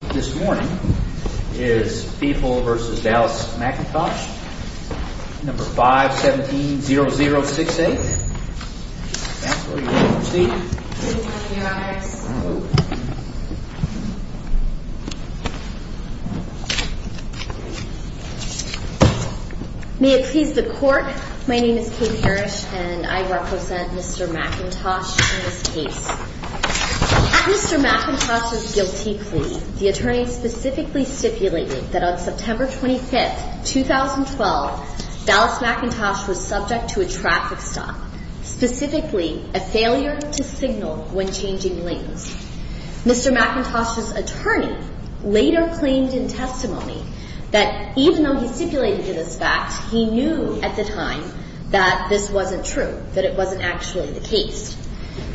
This morning is People v. Dallas McIntosh, No. 517-0068. May it please the Court, my name is Kate Harris and I represent Mr. McIntosh in this case. At Mr. McIntosh's guilty plea, the attorney specifically stipulated that on September 25, 2012, Dallas McIntosh was subject to a traffic stop, specifically a failure to signal when changing lanes. Mr. McIntosh's attorney later claimed in testimony that even though he stipulated this fact, he knew at the time that this wasn't true, that it wasn't actually the case.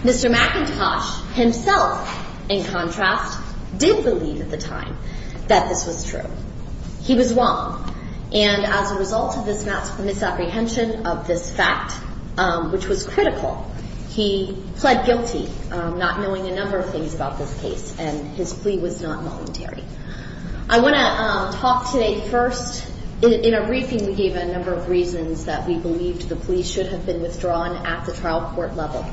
Mr. McIntosh himself, in contrast, did believe at the time that this was true. He was wrong. And as a result of this misapprehension of this fact, which was critical, he pled guilty, not knowing a number of things about this case, and his plea was not voluntary. I want to talk today first, in a briefing we gave a number of reasons that we believed the plea should have been withdrawn at the trial court level.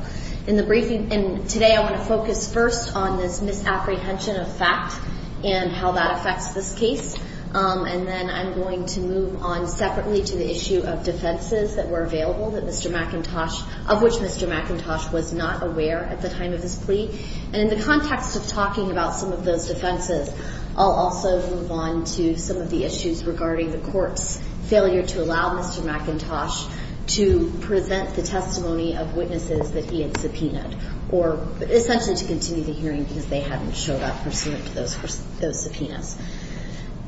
In the briefing, and today I want to focus first on this misapprehension of fact and how that affects this case. And then I'm going to move on separately to the issue of defenses that were available that Mr. McIntosh, of which Mr. McIntosh was not aware at the time of his plea. And in the context of talking about some of those defenses, I'll also move on to some of the issues regarding the court's failure to allow Mr. McIntosh to present the testimony of witnesses that he had subpoenaed, or essentially to continue the hearing because they hadn't showed up pursuant to those subpoenas.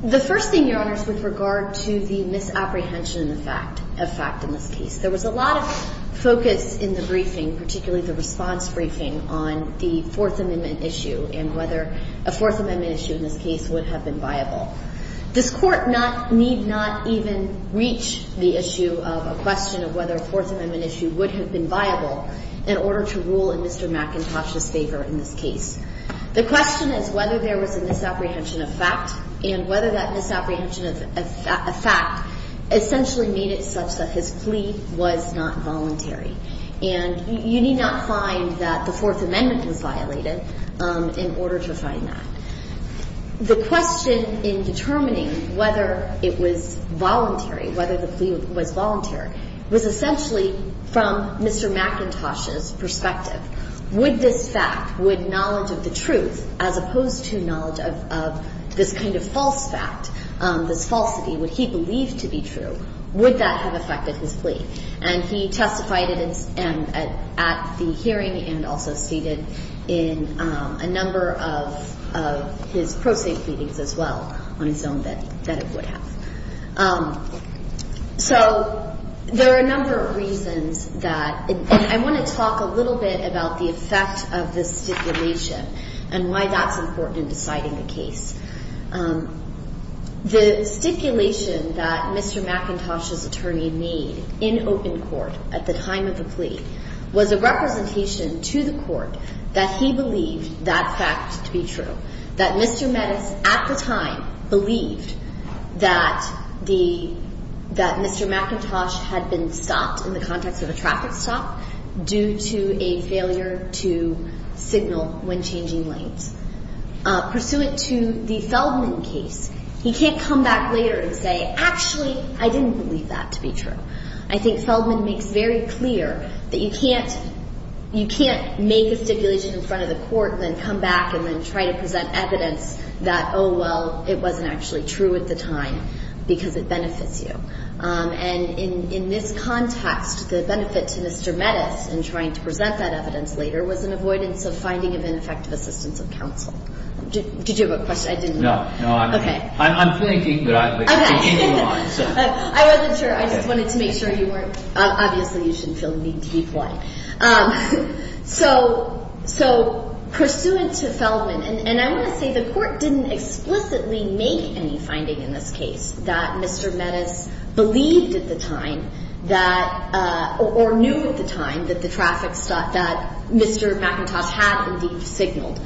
The first thing, Your Honors, with regard to the misapprehension of fact in this case, there was a lot of focus in the briefing, particularly the response briefing, on the Fourth Amendment issue and whether a Fourth Amendment issue in this case would have been viable. This Court need not even reach the issue of a question of whether a Fourth Amendment issue would have been viable in order to rule in Mr. McIntosh's favor in this case. The question is whether there was a misapprehension of fact and whether that misapprehension of fact essentially made it such that his plea was not voluntary. And you need not find that the Fourth Amendment was violated in order to find that. The question in determining whether it was voluntary, whether the plea was voluntary, was essentially from Mr. McIntosh's perspective. Would this fact, would knowledge of the truth, as opposed to knowledge of this kind of false fact, this falsity, would he believe to be true, would that have affected his plea? And he testified at the hearing and also stated in a number of his pro se pleadings as well on his own that it would have. So there are a number of reasons that, and I want to talk a little bit about the effect of this stipulation and why that's important in deciding the case. The stipulation that Mr. McIntosh's attorney made in open court at the time of the plea was a representation to the court that he believed that fact to be true, that Mr. Mettis at the time believed that Mr. McIntosh had been stopped in the context of a traffic stop due to a failure to signal when changing lanes. Pursuant to the Feldman case, he can't come back later and say, actually, I didn't believe that to be true. I think Feldman makes very clear that you can't make a stipulation in front of the court and then come back and then try to present evidence that, oh, well, it wasn't actually true at the time because it benefits you. And in this context, the benefit to Mr. Mettis in trying to present that evidence later was an avoidance of finding of ineffective assistance of counsel. Did you have a question? I didn't. No, no, I'm thinking, but I'm taking you on. I wasn't sure. I just wanted to make sure you weren't, obviously, you shouldn't feel the need to reply. So pursuant to Feldman, and I want to say the court didn't explicitly make any finding in this case that Mr. Mettis believed at the time that or knew at the time that the traffic stop that Mr. McIntosh had indeed signaled.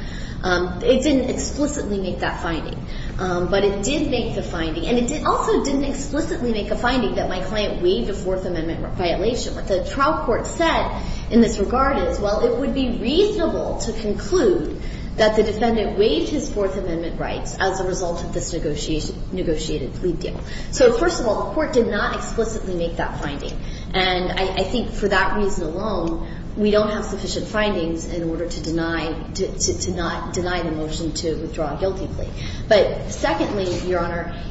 It didn't explicitly make that finding, but it did make the finding. And it also didn't explicitly make a finding that my client waived a Fourth Amendment violation. What the trial court said in this regard is, well, it would be reasonable to conclude that the defendant waived his Fourth Amendment rights as a result of this negotiated plea deal. So first of all, the court did not explicitly make that finding, and I think for that reason alone, we don't have sufficient findings in order to deny the motion to withdraw a guilty plea. But secondly, Your Honor,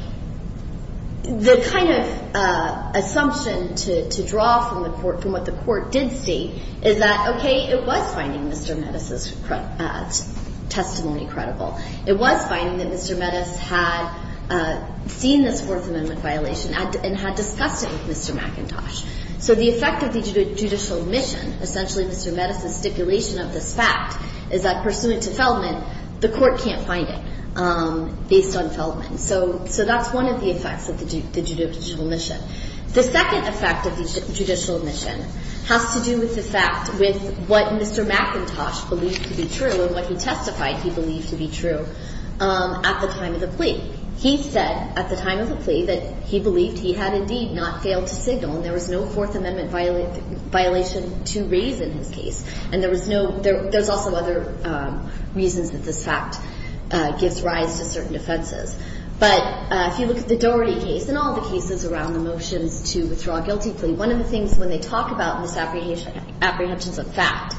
the kind of assumption to draw from the court, from what the court did state, is that, okay, it was finding Mr. Mettis' testimony credible. It was finding that Mr. Mettis had seen this Fourth Amendment violation and had discussed it with Mr. McIntosh. So the effect of the judicial mission, essentially Mr. Mettis' stipulation of this fact, is that pursuant to Feldman, the court can't find it. Based on Feldman. So that's one of the effects of the judicial mission. The second effect of the judicial mission has to do with the fact with what Mr. McIntosh believed to be true and what he testified he believed to be true at the time of the plea. He said at the time of the plea that he believed he had indeed not failed to signal, and there was no Fourth Amendment violation to raise in his case. And there was no — there's also other reasons that this fact gives rise to certain offenses. But if you look at the Doherty case and all the cases around the motions to withdraw a guilty plea, one of the things when they talk about misapprehensions of fact,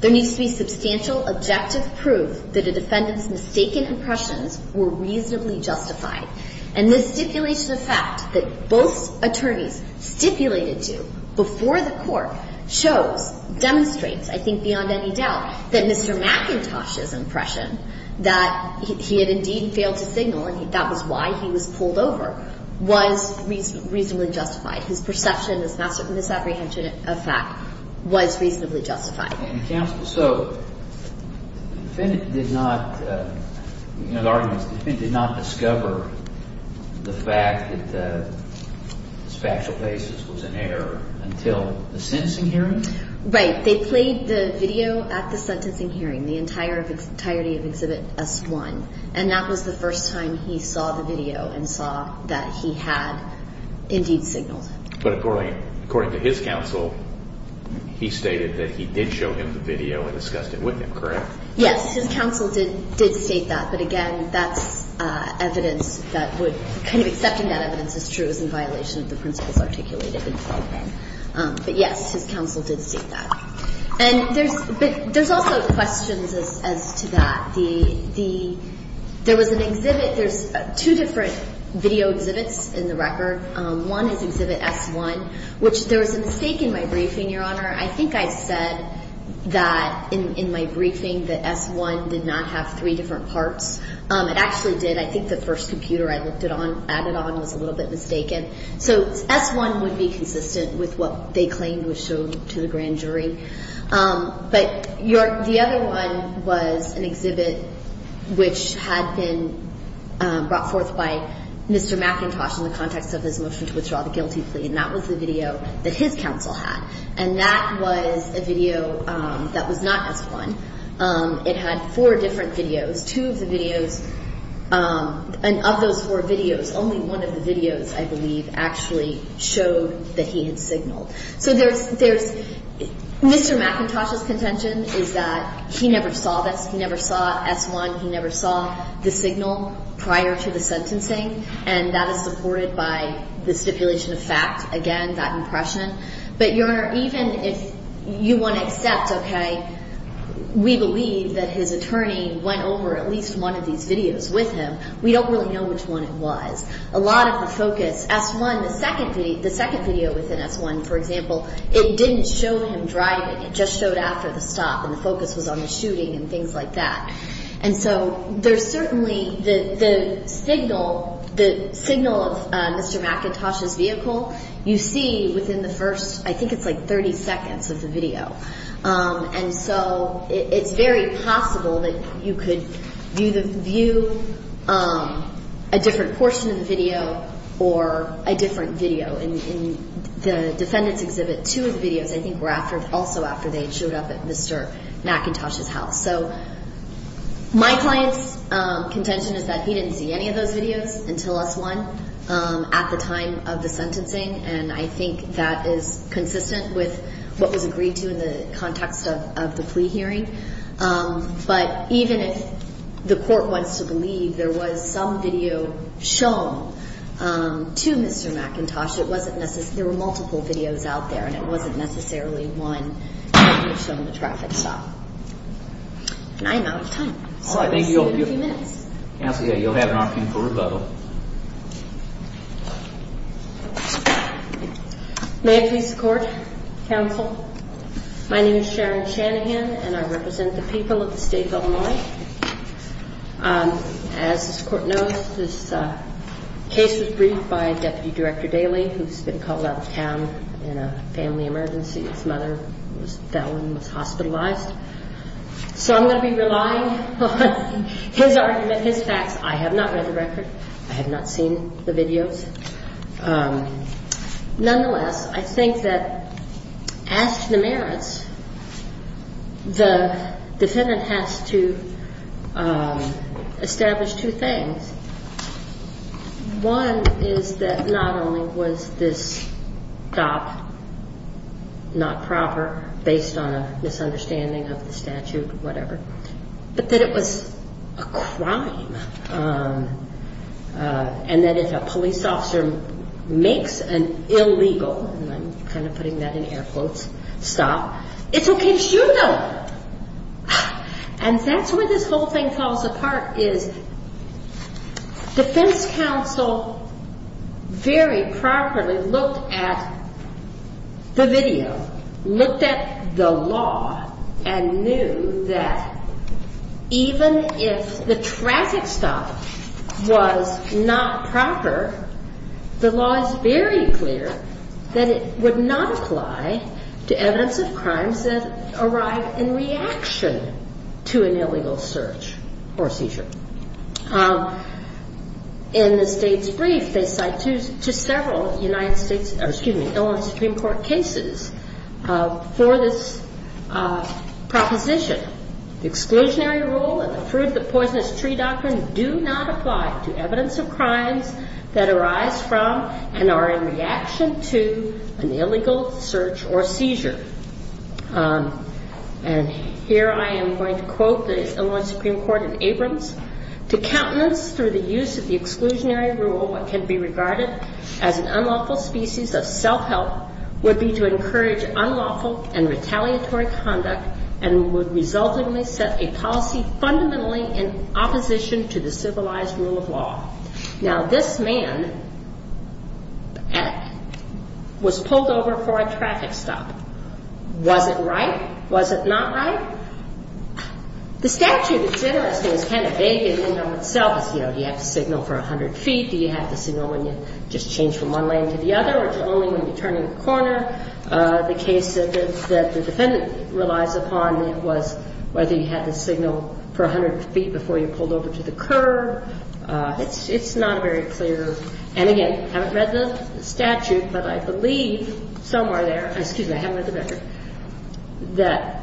there needs to be substantial objective proof that a defendant's mistaken impressions were reasonably justified. And this stipulation of fact that both attorneys stipulated to before the court shows, demonstrates, that there was no misapprehension of fact. I think beyond any doubt that Mr. McIntosh's impression that he had indeed failed to signal and that was why he was pulled over was reasonably justified. His perception, his misapprehension of fact was reasonably justified. And, counsel, so the defendant did not — you know, the argument is the defendant did not discover the fact that his factual basis was in error until the sentencing hearing? Right. They played the video at the sentencing hearing, the entirety of Exhibit S1. And that was the first time he saw the video and saw that he had indeed signaled. But, according to his counsel, he stated that he did show him the video and discussed it with him, correct? Yes. His counsel did state that. But, again, that's evidence that would — kind of accepting that evidence as true is in violation of the principles articulated in the program. But, yes, his counsel did state that. And there's also questions as to that. There was an exhibit — there's two different video exhibits in the record. One is Exhibit S1, which there was a mistake in my briefing, Your Honor. I think I said that in my briefing that S1 did not have three different parts. It actually did. I think the first computer I looked it on — added on was a little bit mistaken. So S1 would be consistent with what they claimed was shown to the grand jury. But the other one was an exhibit which had been brought forth by Mr. McIntosh in the context of his motion to withdraw the guilty plea. And that was the video that his counsel had. And that was a video that was not S1. It had four different videos. Two of the videos — of those four videos, only one of the videos, I believe, actually showed that he had signaled. So there's — Mr. McIntosh's contention is that he never saw this. He never saw S1. He never saw the signal prior to the sentencing. And that is supported by the stipulation of fact, again, that impression. But, Your Honor, even if you want to accept, OK, we believe that his attorney went over at least one of these videos with him, we don't really know which one it was. A lot of the focus — S1, the second video within S1, for example, it didn't show him driving. It just showed after the stop, and the focus was on the shooting and things like that. And so there's certainly — the signal of Mr. McIntosh's vehicle, you see within the first — I think it's like 30 seconds of the video. And so it's very possible that you could view a different portion of the video or a different video. In the defendant's exhibit, two of the videos, I think, were also after they had showed up at Mr. McIntosh's house. So my client's contention is that he didn't see any of those videos until S1 at the time of the sentencing, and I think that is consistent with what was agreed to in the context of the plea hearing. But even if the court wants to believe there was some video shown to Mr. McIntosh, it wasn't necessarily — there were multiple videos out there, and it wasn't necessarily one that would have shown the traffic stop. And I'm out of time, so we'll see you in a few minutes. May it please the Court, Counsel. My name is Sharon Shanahan, and I represent the people of the state of Illinois. As this Court knows, this case was briefed by Deputy Director Daley, who's been called out of town in a family emergency. His mother fell and was hospitalized. So I'm going to be relying on his argument, his facts. I have not read the record. I have not seen the videos. Nonetheless, I think that as to the merits, the defendant has to establish two things. One is that not only was this stop not proper, based on a misunderstanding of the statute or whatever, but that it was a crime, and that if a police officer makes an illegal — and I'm kind of putting that in air quotes — stop, it's okay to shoot them. And that's where this whole thing falls apart, is defense counsel very properly looked at the video, looked at the law, and knew that even if the traffic stop was not proper, the law is very clear that it would not apply to evidence of crimes that arrived in reaction to an illegal search or seizure. In the state's brief, they cite to several Illinois Supreme Court cases for this stop. Proposition. The exclusionary rule and the fruit-of-the-poisonous-tree doctrine do not apply to evidence of crimes that arise from, and are in reaction to, an illegal search or seizure. And here I am going to quote the Illinois Supreme Court in Abrams. The statute, it's interesting, is kind of vague in and of itself, you know, do you have to signal for 100 feet, do you have to signal when you just change from one lane to the other, or do you only when you turn in a corner. The case that the defendant relies upon was whether you had to signal for 100 feet before you pulled over to the curb. It's not very clear. And again, I haven't read the statute, but I believe somewhere there — excuse me, I haven't read the statute — that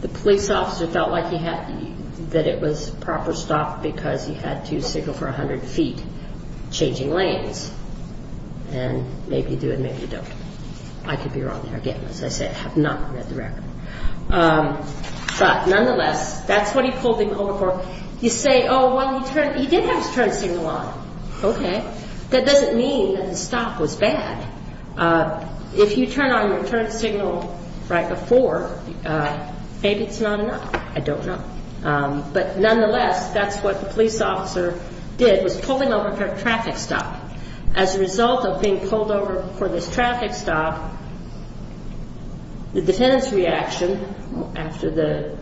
the police officer felt like he had — that it was proper stop because he had to signal for 100 feet, changing lanes. And maybe you do and maybe you don't. I could be wrong there again. As I said, I have not read the record. But nonetheless, that's what he pulled him over for. You say, oh, well, he did have his turn signal on. Okay. That doesn't mean that the stop was bad. If you turn on your turn signal right before, maybe it's not enough. I don't know. But nonetheless, that's what the police officer did, was pull him over for a traffic stop. As a result of being pulled over for this traffic stop, the defendant's reaction, after the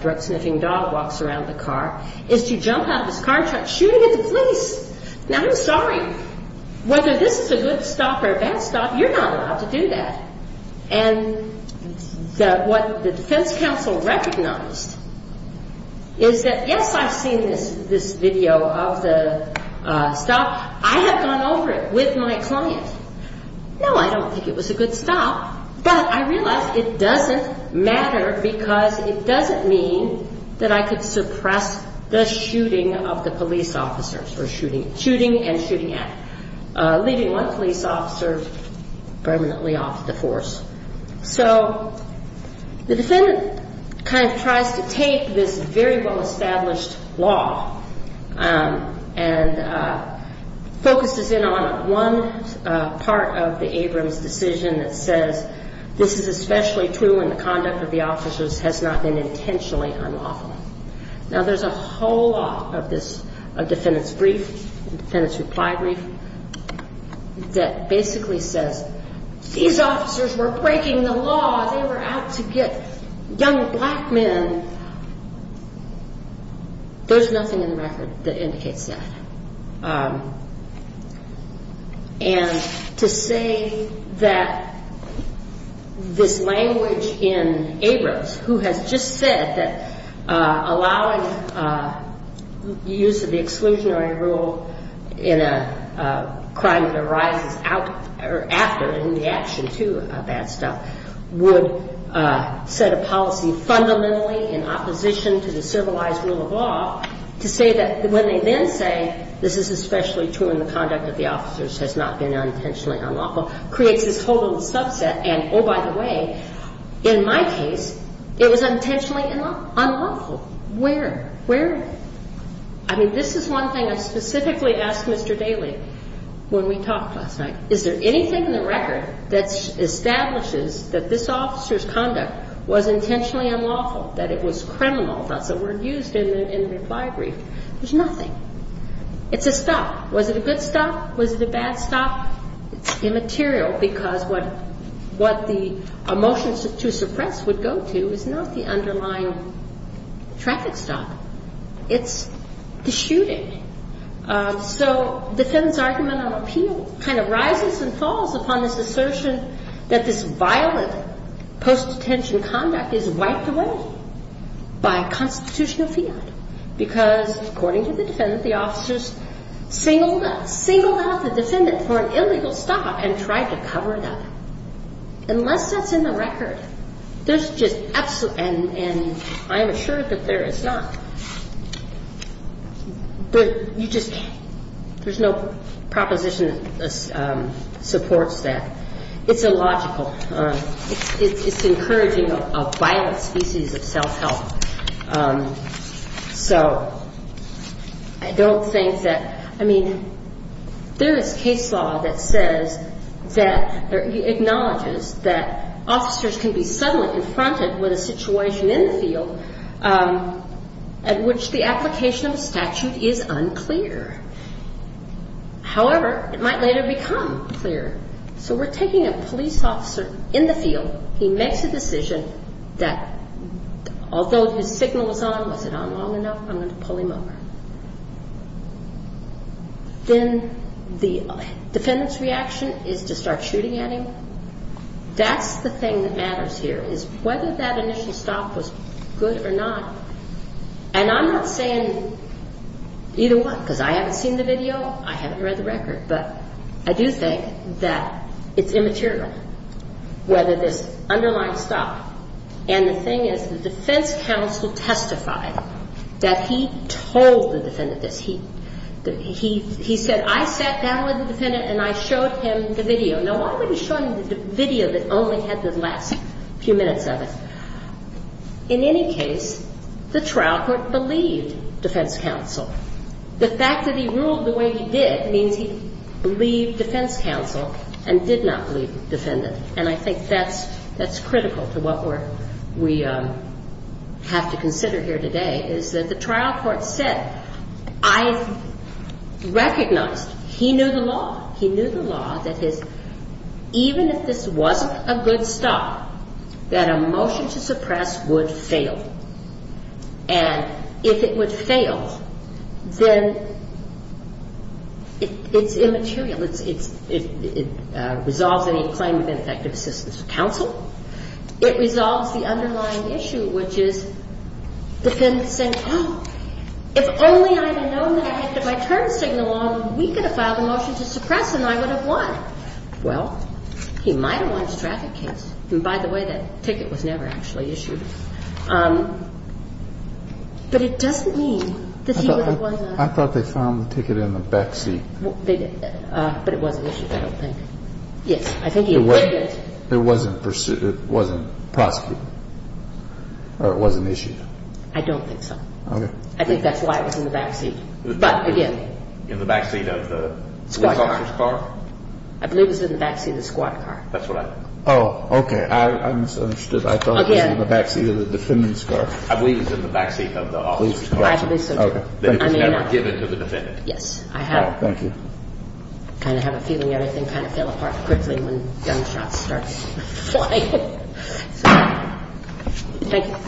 drug-sniffing dog walks around the car, is to jump out of his car and start shooting at the police. Now, I'm sorry. Whether this is a good stop or a bad stop, you're not allowed to do that. And what the defense counsel recognized is that, yes, I've seen this video of the stop. I have gone over it with my client. No, I don't think it was a good stop. But I realized it doesn't matter because it doesn't mean that I could suppress the shooting of the police officers, or shooting — shooting and shooting at — leaving one police officer permanently off the force. So the defendant kind of tries to take this very well-established law and focuses in on one part of the Abrams decision that says, this is especially true when the conduct of the officers has not been intentionally unlawful. Now, there's a whole lot of this — of defendant's brief, defendant's reply brief, that basically says, these officers were pulled over for a traffic stop. They were breaking the law. They were out to get young black men. There's nothing in the record that indicates that. And to say that this language in Abrams, who has just said that allowing use of the exclusionary rule in a crime that arises out — or after in the action to a bad stop, is a bad stop. Would set a policy fundamentally in opposition to the civilized rule of law to say that when they then say, this is especially true in the conduct of the officers has not been unintentionally unlawful, creates this whole little subset. And, oh, by the way, in my case, it was unintentionally unlawful. Where? Where? I mean, this is one thing I specifically asked Mr. Daley when we talked last night. Is there anything in the record that establishes that this officer's conduct was intentionally unlawful, that it was criminal, that's the word used in the reply brief? There's nothing. It's a stop. Was it a good stop? Was it a bad stop? It's immaterial, because what the — a motion to suppress would go to is not the underlying traffic stop. It's the shooting. So defendant's argument on appeal kind of rises to the surface. And it rises and falls upon this assertion that this violent post-detention conduct is wiped away by constitutional fiat, because, according to the defendant, the officers singled out — singled out the defendant for an illegal stop and tried to cover it up. Unless that's in the record, there's just — and I am assured that there is not. But you just can't. There's no proposition that's in the record. And I don't think that the statute supports that. It's illogical. It's encouraging a violent species of self-help. So I don't think that — I mean, there is case law that says that — acknowledges that officers can be suddenly confronted with a situation in the field at which the application of a statute is unclear. However, it might later become clear. So we're taking a police officer in the field. He makes a decision that, although his signal was on, was it on long enough? I'm going to pull him over. Then the defendant's reaction is to start shooting at him. That's the thing that matters here, is whether that initial stop was good or not. And I'm not saying either one, because I haven't seen the video. I haven't read the record. But I do think that it's immaterial, whether this underlying stop. And the thing is, the defense counsel testified that he told the defendant this. He said, I sat down with the defendant and I showed him the video. Now, why would he show him the video that only had the last few minutes of it? In any case, the defense counsel testified that he told the defendant this. The trial court believed defense counsel. The fact that he ruled the way he did means he believed defense counsel and did not believe the defendant. And I think that's critical to what we have to consider here today, is that the trial court said, I recognized he knew the law. He knew the law that his — even if this wasn't a good stop, that a motion to suppress would fail. And if it would fail, then it's immaterial. It resolves any claim of ineffective assistance with counsel. It resolves the underlying issue, which is, the defendant said, oh, if only I had known that I had my turn signal on, we could have filed a motion to suppress him. I would have won. Well, he might have won his traffic case. And by the way, that ticket was never actually issued. But it doesn't mean that he would have won that. I thought they found the ticket in the back seat. But it wasn't issued, I don't think. Yes, I think he did get it. It wasn't pursued. It wasn't prosecuted. Or it wasn't issued. I don't think so. Okay. I think that's why it was in the back seat. But, again. In the back seat of the law officer's car? I believe it was in the back seat of the squad car. That's what I think. Oh, okay. I misunderstood. I thought it was in the back seat of the defendant's car. I believe it was in the back seat of the officer's car. I believe so, too. Okay. That it was never given to the defendant. Yes. I have. Oh, thank you. I kind of have a feeling everything kind of fell apart quickly when gunshots started flying. Thank you.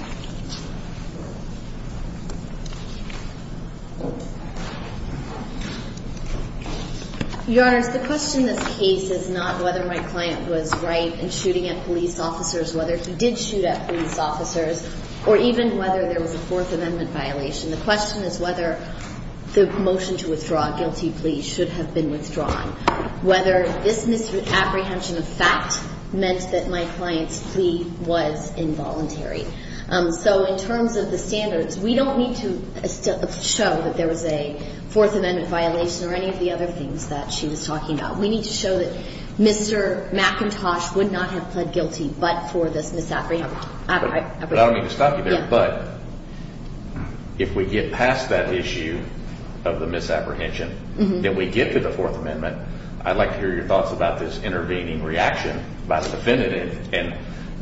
Your Honors, the question in this case is not whether my client was right in shooting at police officers, whether he did shoot at police officers, or even whether there was a Fourth Amendment violation. The question is whether the motion to withdraw a guilty plea should have been withdrawn. Whether this misapprehension of fact meant that my client's plea was involuntary. So in terms of the standards, we don't need to show that there was a Fourth Amendment violation or any of the other things that she was talking about. We need to show that Mr. McIntosh would not have pled guilty but for this misapprehension. I don't mean to stop you there, but if we get past that issue of the misapprehension, that we get to the Fourth Amendment, I'd like to hear your thoughts about this intervening reaction by the defendant and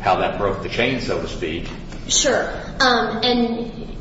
how that broke the chain, so to speak. Sure. And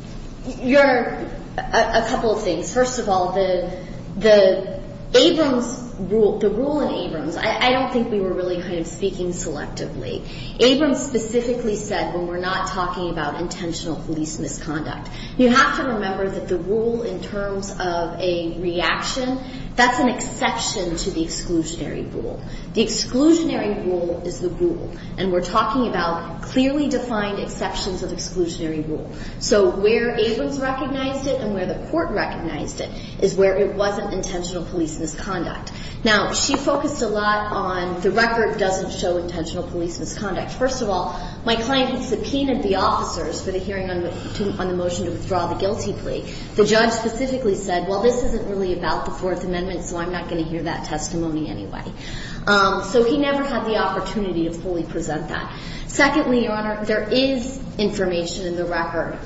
a couple of things. First of all, the Abrams rule, the rule in Abrams, I don't think we were really kind of speaking selectively. Abrams specifically said when we're not talking about intentional police misconduct. You have to remember that the rule in terms of a reaction, that's an exception to the exclusionary rule. The exclusionary rule is the rule, and we're talking about clearly defined exceptions of exclusionary rule. So where Abrams recognized it and where the court recognized it is where it wasn't intentional police misconduct. Now, she focused a lot on the record doesn't show intentional police misconduct. First of all, my client had subpoenaed the officers for the hearing on the motion to withdraw the guilty plea. The judge specifically said, well, this isn't really about the Fourth Amendment, so I'm not going to hear that testimony anyway. So he never had the opportunity to fully present that. Secondly, Your Honor, there is information in the record,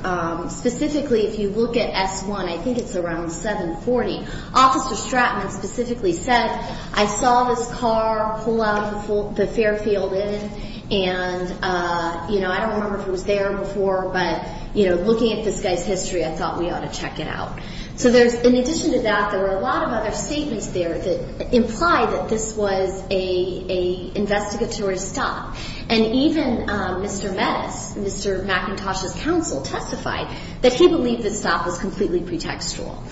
specifically if you look at S1, I think it's around 740, Officer Stratman specifically said, I saw this car pull out of the Fairfield Inn, and I don't remember if it was there before, but looking at this guy's history, I thought we ought to check it out. So in addition to that, there were a lot of other statements there that implied that this was an investigatory stop. And even Mr. Mattis, Mr. McIntosh's counsel testified that he believed the stop was completely pretextual.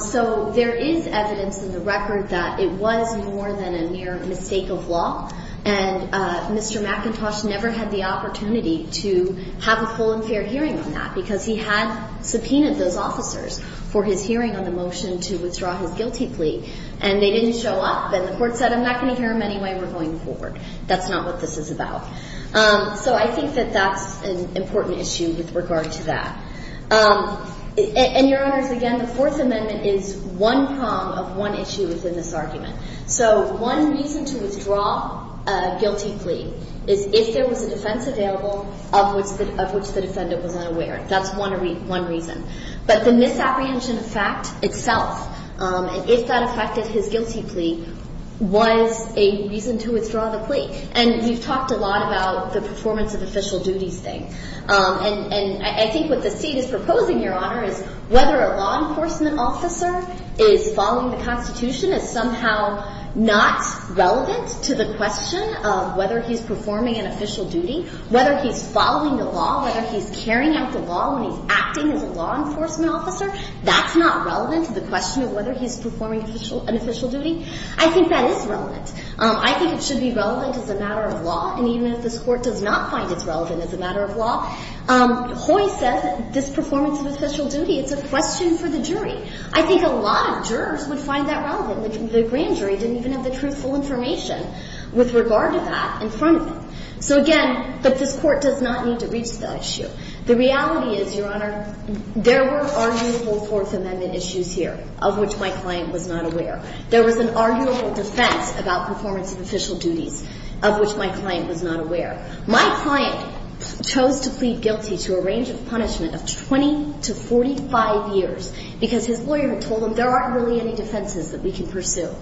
So there is evidence in the record that it was more than a mere mistake of law, and Mr. McIntosh never had the opportunity to have a full and fair hearing on that, because he had subpoenaed those officers for his hearing on the motion to withdraw his guilty plea. And they didn't show up, and the court said, I'm not going to hear them anyway, we're going forward. That's not what this is about. So I think that that's an important issue with regard to that. And, Your Honors, again, the Fourth Amendment is one prong of one issue within this argument. So one reason to withdraw a guilty plea is if there was a defense available of which the defendant was unaware. That's one reason. But the misapprehension of fact itself, and if that affected his guilty plea, was a reason to withdraw the plea. And we've talked a lot about the performance of official duties thing. And I think what the State is proposing, Your Honor, is whether a law enforcement officer is following the Constitution is somehow not relevant to the question of whether he's performing an official duty, whether he's following the law, whether he's carrying out the law when he's acting as a law enforcement officer. That's not relevant to the question of whether he's performing an official duty. I think that is relevant. I think it should be relevant as a matter of law, and even if this Court does not find it relevant as a matter of law, Hoy says this performance of official duty is a question for the jury. I think a lot of jurors would find that relevant. The grand jury didn't even have the truthful information with regard to that in front of them. So, again, this Court does not need to reach that issue. The reality is, Your Honor, there were arguable Fourth Amendment issues here of which my client was not aware. There was an arguable defense about performance of official duties of which my client was not aware. My client chose to plead guilty to a range of punishment of 20 to 45 years because his lawyer had told him there aren't really any defenses that we can pursue.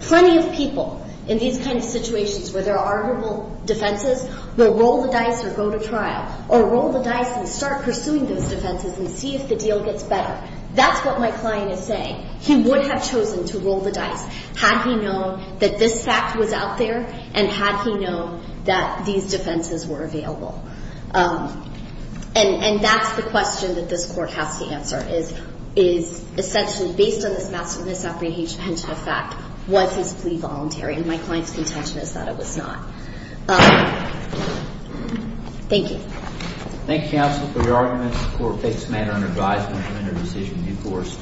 Plenty of people in these kinds of situations where there are arguable defenses will roll the dice or go to trial or roll the dice and start pursuing those defenses and see if the deal gets better. That's what my client is saying. He would have chosen to plead voluntary and had he known that these defenses were available. And that's the question that this Court has to answer, is essentially, based on this massive misapprehension of fact, was his plea voluntary? And my client's contention is that it was not. Thank you. Thank you, Counsel, for your arguments. The Court takes the matter under advisement to enter a decision to be forced.